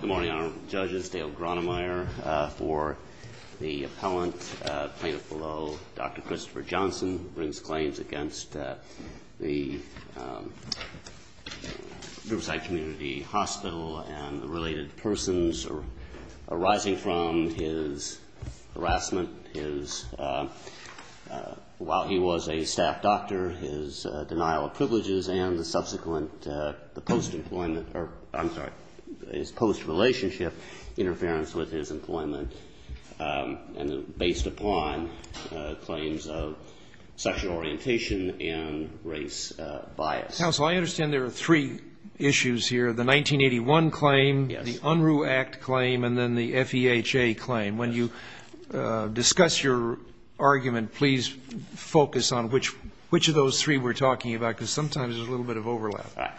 Good morning, Honorable Judges. Dale Gronemeyer for the Appellant. Plaintiff below, Dr. Christopher Johnson, brings claims against the Riverside Community Hospital and the related persons arising from his harassment, his, while he was a staff doctor, his denial of privileges and the subsequent, the post-employment, or, I'm sorry, his post-relationship interference with his employment, and based upon claims of sexual orientation and race bias. Counsel, I understand there are three issues here. The 1981 claim, the Unruh Act claim, and then the FEHA claim. When you discuss your argument, please focus on which of those three we're talking about, because sometimes there's a little bit of overlap.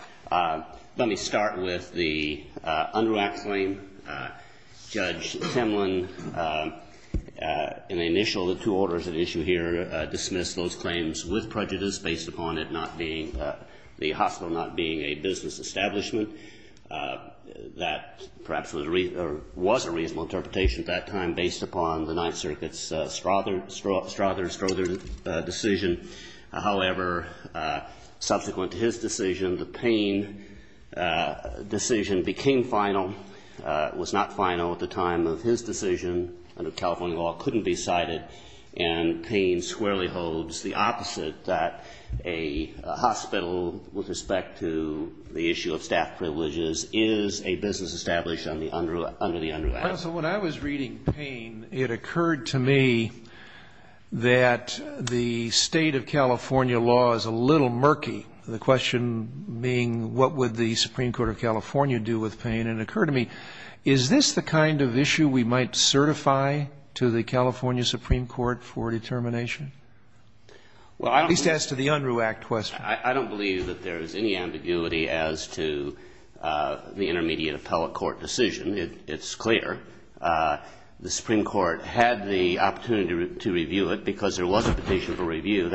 Let me start with the Unruh Act claim. Judge Timlin, in the initial of the two orders at issue here, dismissed those claims with prejudice based upon it not being, the hospital not being a business establishment. That perhaps was a reasonable interpretation at that time based upon the Ninth Circuit's Strother decision. However, subsequent to his decision, the Payne decision became final. It was not final at the time of his decision. Under California law, it couldn't be cited. And Payne squarely holds the opposite, that a hospital, with respect to the issue of staff privileges, is a business established under the Unruh Act. Counsel, when I was reading Payne, it occurred to me that the state of California law is a little murky. The question being, what would the Supreme Court of California do with Payne? And it occurred to me, is this the kind of issue we might certify to the California Supreme Court for determination? At least as to the Unruh Act question. I don't believe that there is any ambiguity as to the intermediate appellate court decision. It's clear. The Supreme Court had the opportunity to review it because there was a petition for review.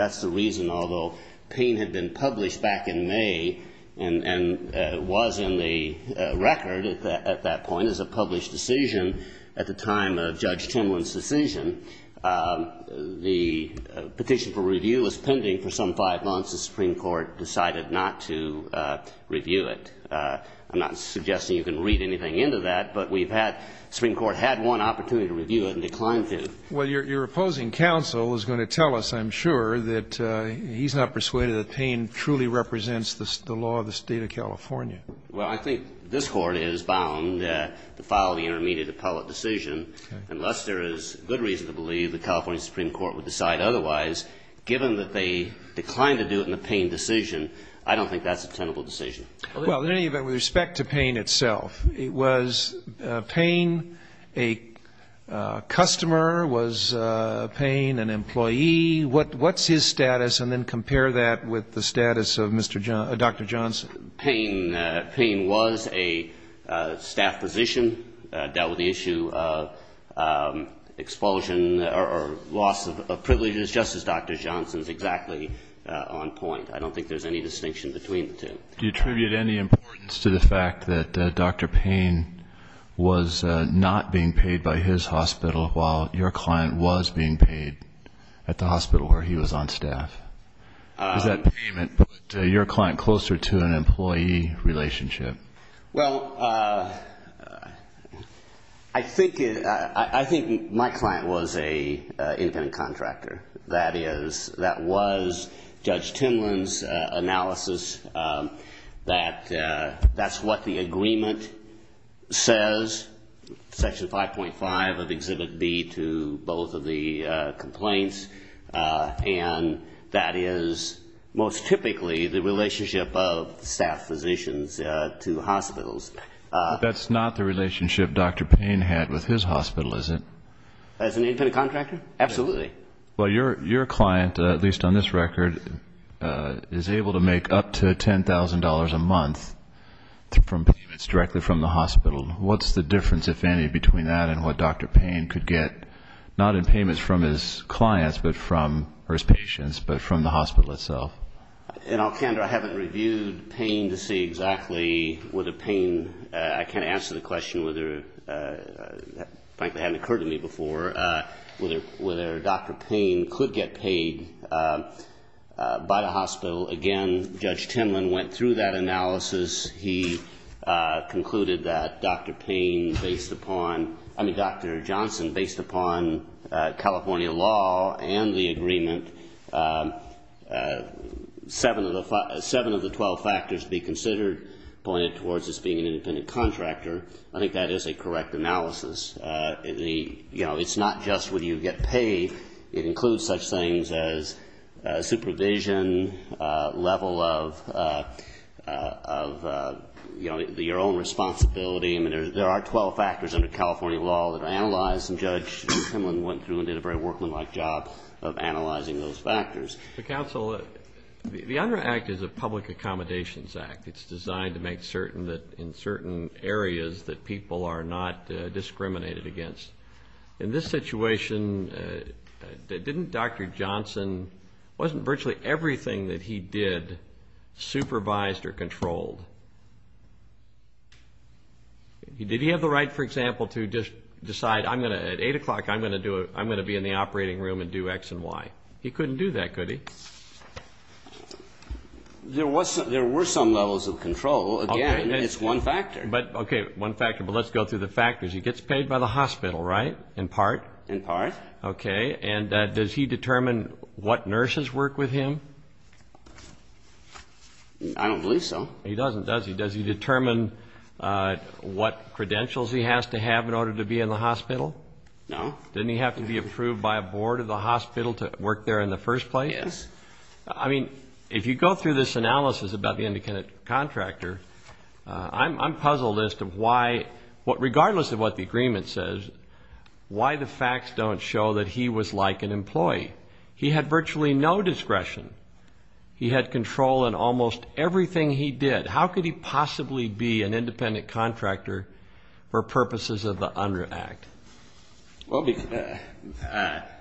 Well, your opposing counsel is going to tell us, I'm sure, that he's not persuaded that Payne truly represents the law of the state of California. Well, I think this Court is bound to file the intermediate appellate decision. Unless there is good reason to believe the California Supreme Court would decide otherwise, given that they declined to do it in the Payne decision, I don't think that's a tenable decision. Well, in any event, with respect to Payne itself, was Payne a customer? Was Payne an employee? What's his status? And then compare that with the status of Dr. Johnson. Payne was a staff physician, dealt with the issue of expulsion or loss of privileges, just as Dr. Johnson's exactly on point. I don't think there's any distinction between the two. Do you attribute any importance to the fact that Dr. Payne was not being paid by his hospital while your client was being paid at the hospital where he was on staff? Does that payment put your client closer to an employee relationship? Well, I think my client was an independent contractor. That was Judge Timlin's analysis. That's what the agreement says, Section 5.5 of Exhibit B, to both of the complaints. And that is most typically the relationship of staff physicians to hospitals. That's not the relationship Dr. Payne had with his hospital, is it? As an independent contractor? Absolutely. Well, your client, at least on this record, is able to make up to $10,000 a month from payments directly from the hospital. What's the difference, if any, between that and what Dr. Payne could get, not in payments from his clients or his patients, but from the hospital itself? In all candor, I haven't reviewed Payne to see exactly whether Payne—I can't answer the question whether—that frankly hadn't occurred to me before—whether Dr. Payne could get paid by the hospital. Again, Judge Timlin went through that analysis. He concluded that Dr. Payne, based upon—I mean, Dr. Johnson, based upon California law and the agreement, seven of the twelve factors to be considered pointed towards this being an independent contractor. I think that is a correct analysis. You know, it's not just would you get paid. It includes such things as supervision, level of, you know, your own responsibility. I mean, there are twelve factors under California law that are analyzed, and Judge Timlin went through and did a very workmanlike job of analyzing those factors. Counsel, the UNRRA Act is a public accommodations act. It's designed to make certain that in certain areas that people are not discriminated against. In this situation, didn't Dr. Johnson—wasn't virtually everything that he did supervised or controlled? Did he have the right, for example, to just decide at 8 o'clock I'm going to be in the operating room and do X and Y? He couldn't do that, could he? There were some levels of control. Again, it's one factor. Okay, one factor, but let's go through the factors. He gets paid by the hospital, right, in part? In part. Okay, and does he determine what nurses work with him? I don't believe so. He doesn't, does he? Does he determine what credentials he has to have in order to be in the hospital? No. Didn't he have to be approved by a board of the hospital to work there in the first place? Yes. I mean, if you go through this analysis about the independent contractor, I'm puzzled as to why, regardless of what the agreement says, why the facts don't show that he was like an employee. He had virtually no discretion. He had control in almost everything he did. How could he possibly be an independent contractor for purposes of the UNRRA Act? Well,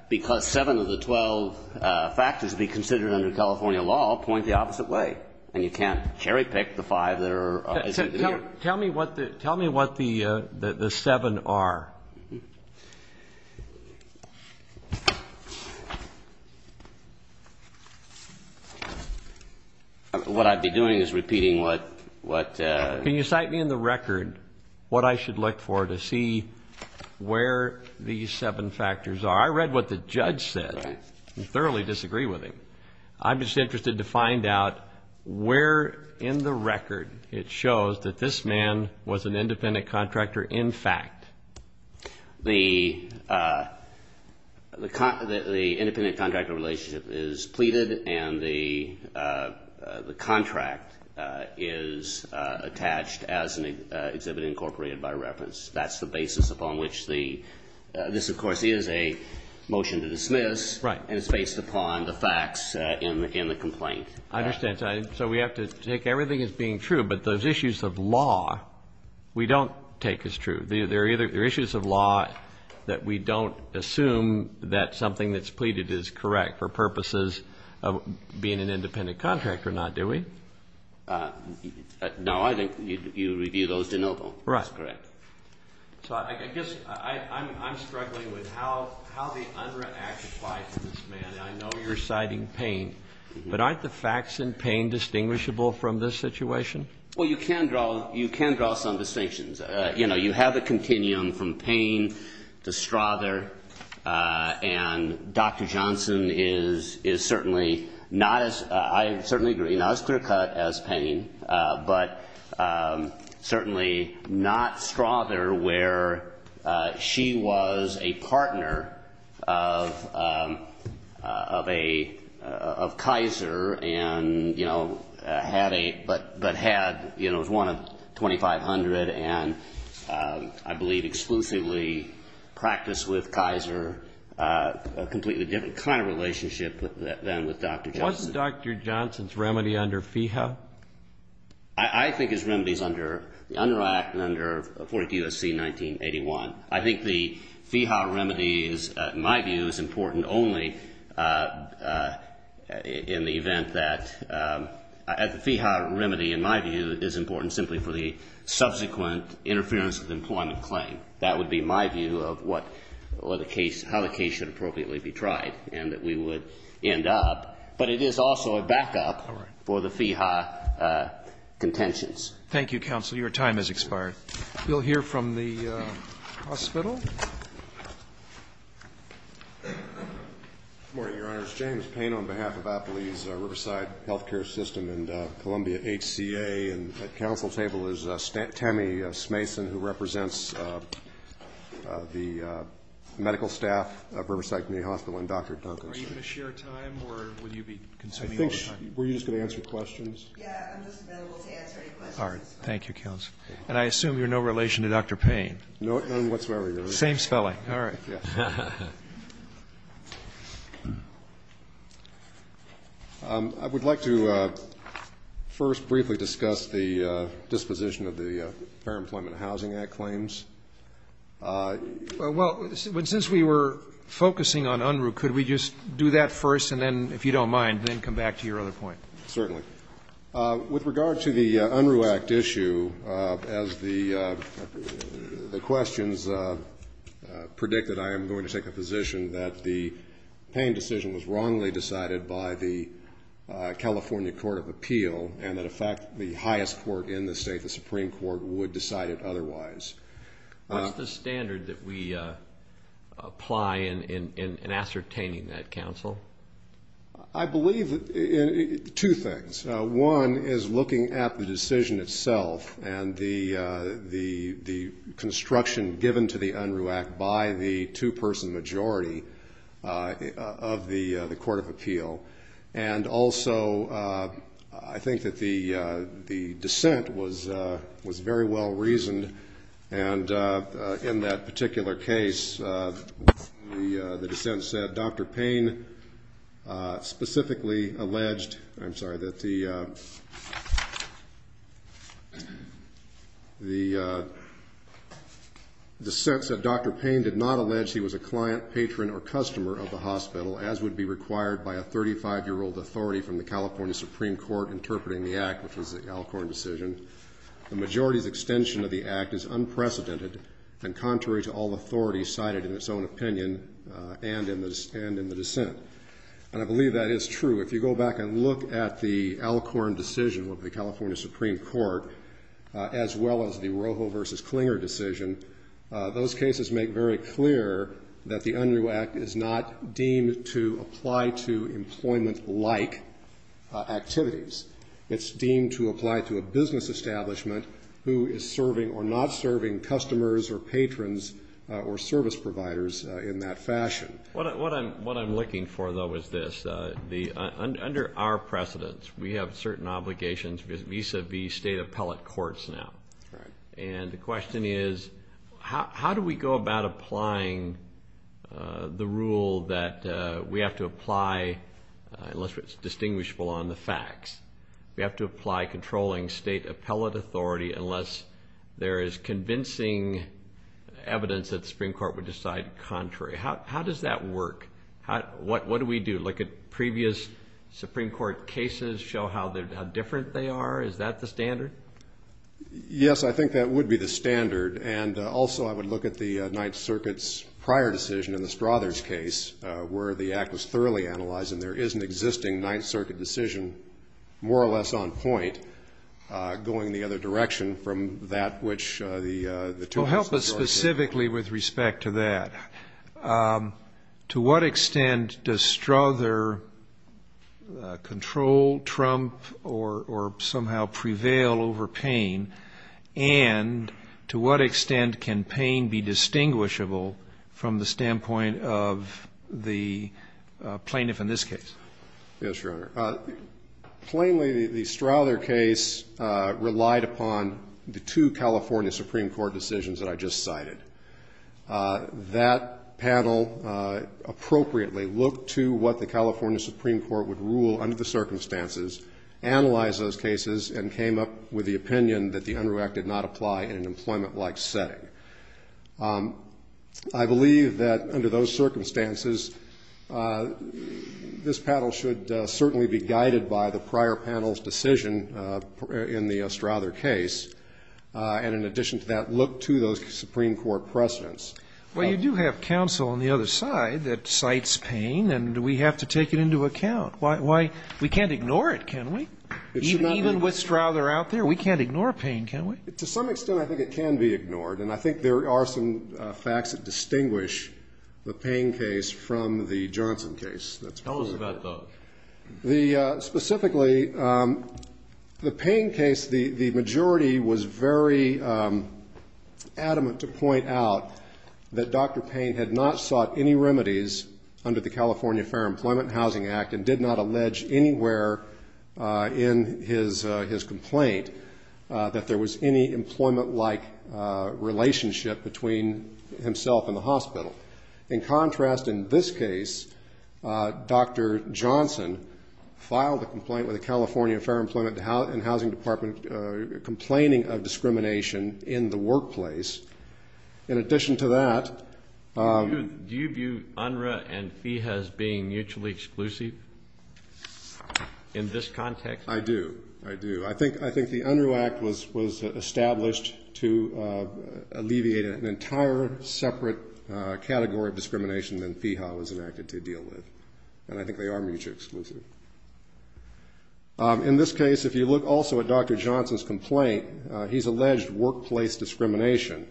because seven of the 12 factors to be considered under California law point the opposite way, and you can't cherry pick the five that are. Tell me what the seven are. What I'd be doing is repeating what. Can you cite me in the record what I should look for to see where these seven factors are? I read what the judge said and thoroughly disagree with him. I'm just interested to find out where in the record it shows that this man was an independent contractor in fact. The independent contractor relationship is pleaded, and the contract is attached as an exhibit incorporated by reference. That's the basis upon which the – this, of course, is a motion to dismiss. Right. And it's based upon the facts in the complaint. I understand. So we have to take everything as being true, but those issues of law we don't take as true. There are issues of law that we don't assume that something that's pleaded is correct for purposes of being an independent contractor or not, do we? No, I think you review those de novo. Right. That's correct. So I guess I'm struggling with how the UNRRA Act applies to this man. I know you're citing Payne, but aren't the facts in Payne distinguishable from this situation? Well, you can draw some distinctions. You know, you have a continuum from Payne to Strother, and Dr. Johnson is certainly not as – I certainly agree, not as clear-cut as Payne, but certainly not Strother where she was a partner of a – of Kaiser and, you know, had a – but had, you know, was one of 2,500 and, I believe, exclusively practiced with Kaiser a completely different kind of relationship than with Dr. Johnson. Is Johnson's remedy under FEHA? I think his remedy is under the UNRRA Act and under 42 SC 1981. I think the FEHA remedy is, in my view, is important only in the event that – the FEHA remedy, in my view, is important simply for the subsequent interference of the employment claim. That would be my view of what – or the case – how the case should appropriately be tried and that we would end up. But it is also a backup for the FEHA contentions. Thank you, counsel. Your time has expired. You'll hear from the hospital. Good morning, Your Honors. James Payne on behalf of Appalee's Riverside Health Care System and Columbia HCA. And at counsel's table is Tami Smason, who represents the medical staff of Riverside Community Hospital, and Dr. Duncan. Are you going to share time or will you be consuming all the time? I think we're just going to answer questions. Yeah, I'm just available to answer any questions. All right. Thank you, counsel. And I assume you're no relation to Dr. Payne. None whatsoever, Your Honor. Same spelling. All right. I would like to first briefly discuss the disposition of the Fair Employment Housing Act claims. Well, since we were focusing on UNRUH, could we just do that first and then, if you don't mind, then come back to your other point? Certainly. With regard to the UNRUH Act issue, as the questions predicted, I am going to take the position that the Payne decision was wrongly decided by the California Court of Appeal and, in fact, the highest court in the State, the Supreme Court, would decide it otherwise. What's the standard that we apply in ascertaining that, counsel? I believe two things. One is looking at the decision itself and the construction given to the UNRUH Act by the two-person majority of the Court of Appeal. And also, I think that the dissent was very well reasoned, and in that particular case, the dissent said Dr. Payne specifically alleged I'm sorry, that the dissent said Dr. Payne did not allege he was a client, patron, or customer of the hospital, as would be required by a 35-year-old authority from the California Supreme Court interpreting the Act, which was the Alcorn decision. The majority's extension of the Act is unprecedented and contrary to all authority cited in its own opinion and in the dissent. And I believe that is true. If you go back and look at the Alcorn decision with the California Supreme Court, as well as the Rojo v. Klinger decision, those cases make very clear that the UNRUH Act is not deemed to apply to employment-like activities. It's deemed to apply to a business establishment who is serving or not serving customers or patrons or service providers in that fashion. What I'm looking for, though, is this. Under our precedence, we have certain obligations vis-à-vis state appellate courts now. And the question is, how do we go about applying the rule that we have to apply unless it's distinguishable on the facts? We have to apply controlling state appellate authority unless there is convincing evidence that the Supreme Court would decide contrary. How does that work? What do we do? Look at previous Supreme Court cases, show how different they are? Is that the standard? Yes, I think that would be the standard. And also I would look at the Ninth Circuit's prior decision in the Strothers case where the Act was thoroughly analyzed and there is an existing Ninth Circuit decision more or less on point going the other direction from that which the two courts specifically with respect to that. To what extent does Strother control Trump or somehow prevail over Payne? And to what extent can Payne be distinguishable from the standpoint of the plaintiff in this case? Yes, Your Honor. Plainly, the Strother case relied upon the two California Supreme Court decisions that I just cited. That panel appropriately looked to what the California Supreme Court would rule under the circumstances, analyzed those cases, and came up with the opinion that the Unruh Act did not apply in an employment-like setting. I believe that under those circumstances, this panel should certainly be guided by the prior panel's decision in the Strother case, and in addition to that, look to those Supreme Court precedents. Well, you do have counsel on the other side that cites Payne, and we have to take it into account. Why? We can't ignore it, can we? Even with Strother out there, we can't ignore Payne, can we? To some extent, I think it can be ignored, and I think there are some facts that distinguish the Payne case from the Johnson case. Tell us about those. Specifically, the Payne case, the majority was very adamant to point out that Dr. Payne had not sought any remedies under the California Fair Employment and Housing Act and did not allege anywhere in his complaint that there was any employment-like relationship between himself and the hospital. In contrast, in this case, Dr. Johnson filed a complaint with the California Fair Employment and Housing Department complaining of discrimination in the workplace. In addition to that ---- Do you view Unruh and FEHA as being mutually exclusive in this context? I do. I do. I think the Unruh Act was established to alleviate an entire separate category of discrimination than FEHA was enacted to deal with, and I think they are mutually exclusive. In this case, if you look also at Dr. Johnson's complaint, he's alleged workplace discrimination.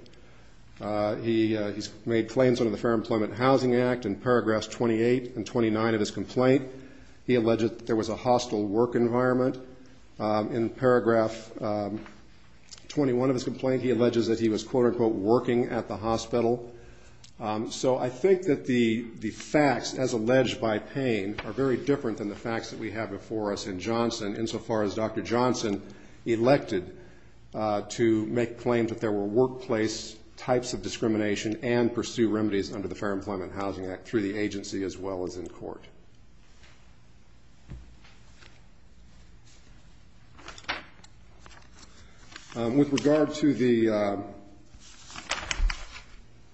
He's made claims under the Fair Employment and Housing Act. In paragraphs 28 and 29 of his complaint, he alleged that there was a hostile work environment. In paragraph 21 of his complaint, he alleges that he was, quote-unquote, working at the hospital. So I think that the facts, as alleged by Payne, are very different than the facts that we have before us in Johnson, insofar as Dr. Johnson elected to make claims that there were workplace types of discrimination and pursue remedies under the Fair Employment and Housing Act through the agency as well as in court. With regard to the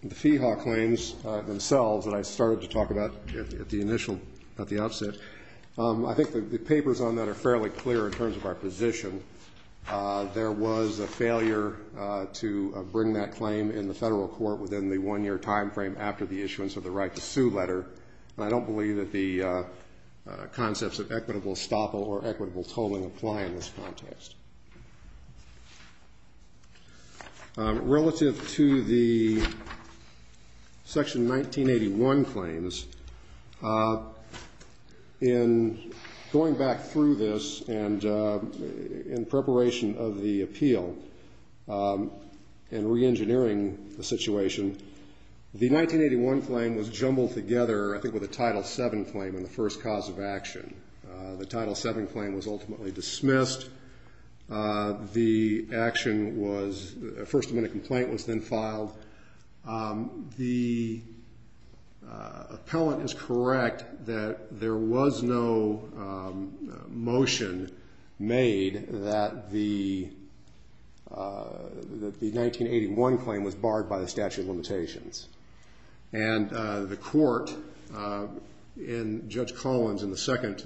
FEHA claims themselves that I started to talk about at the initial, at the outset, I think the papers on that are fairly clear in terms of our position. There was a failure to bring that claim in the federal court within the one-year time frame after the issuance of the right-to-sue letter, and I don't believe that the concepts of equitable estoppel or equitable tolling apply in this context. Relative to the Section 1981 claims, in going back through this and in preparation of the appeal and reengineering the situation, the 1981 claim was jumbled together, I think, with a Title VII claim in the first cause of action. The Title VII claim was ultimately dismissed. The action was, a first-amendment complaint was then filed. The appellant is correct that there was no motion made that the 1981 claim was barred by the statute of limitations, and the court in Judge Collins in the second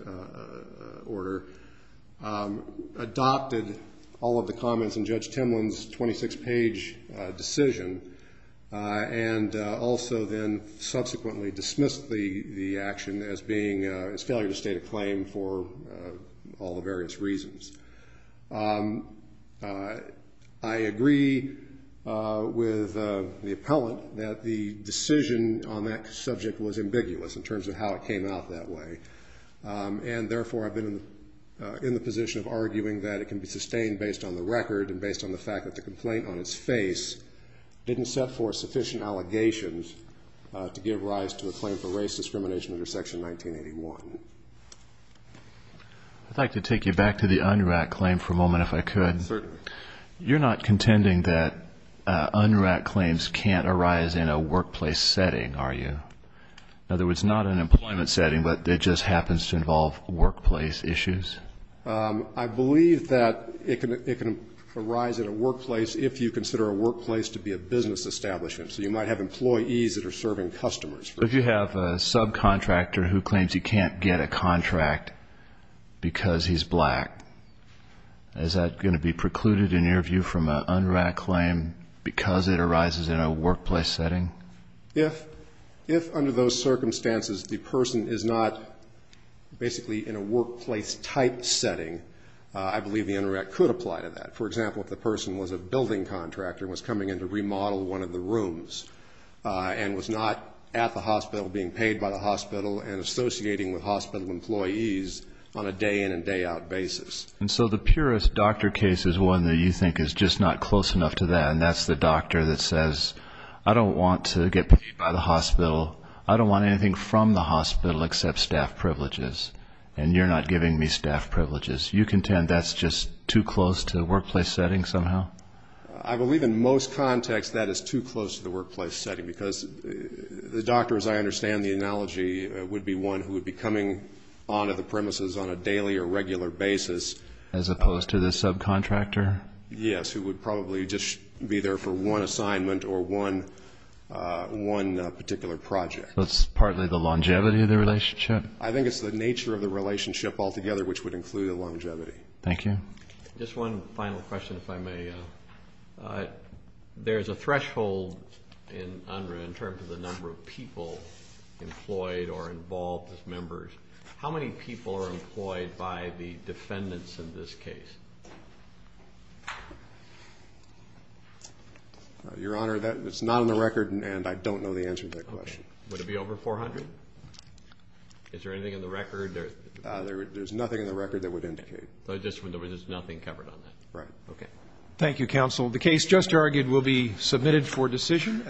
order adopted all of the comments in Judge Timlin's 26-page decision and also then subsequently dismissed the action as failure to state a claim for all the various reasons. I agree with the appellant that the decision on that subject was ambiguous in terms of how it came out that way, and therefore I've been in the position of arguing that it can be sustained based on the record and based on the fact that the complaint on its face didn't set forth sufficient allegations to give rise to a claim for race discrimination under Section 1981. I'd like to take you back to the UNRRAC claim for a moment, if I could. Certainly. You're not contending that UNRRAC claims can't arise in a workplace setting, are you? In other words, not an employment setting, but it just happens to involve workplace issues? I believe that it can arise in a workplace if you consider a workplace to be a business establishment. So you might have employees that are serving customers. If you have a subcontractor who claims he can't get a contract because he's black, is that going to be precluded in your view from an UNRRAC claim because it arises in a workplace setting? If under those circumstances the person is not basically in a workplace-type setting, I believe the UNRRAC could apply to that. For example, if the person was a building contractor and was coming in to remodel one of the rooms and was not at the hospital being paid by the hospital and associating with hospital employees on a day-in and day-out basis. And so the purest doctor case is one that you think is just not close enough to that, and that's the doctor that says, I don't want to get paid by the hospital, I don't want anything from the hospital except staff privileges, and you're not giving me staff privileges. You contend that's just too close to the workplace setting somehow? I believe in most contexts that is too close to the workplace setting because the doctor, as I understand the analogy, would be one who would be coming on to the premises on a daily or regular basis. As opposed to the subcontractor? Yes, who would probably just be there for one assignment or one particular project. That's partly the longevity of the relationship? I think it's the nature of the relationship altogether which would include the longevity. Thank you. Just one final question, if I may. There's a threshold in UNRWA in terms of the number of people employed or involved as members. How many people are employed by the defendants in this case? Your Honor, that is not on the record, and I don't know the answer to that question. Would it be over 400? Is there anything on the record? There's nothing on the record that would indicate. Okay. There's nothing covered on that. Right. Okay. Thank you, counsel. The case just argued will be submitted for decision.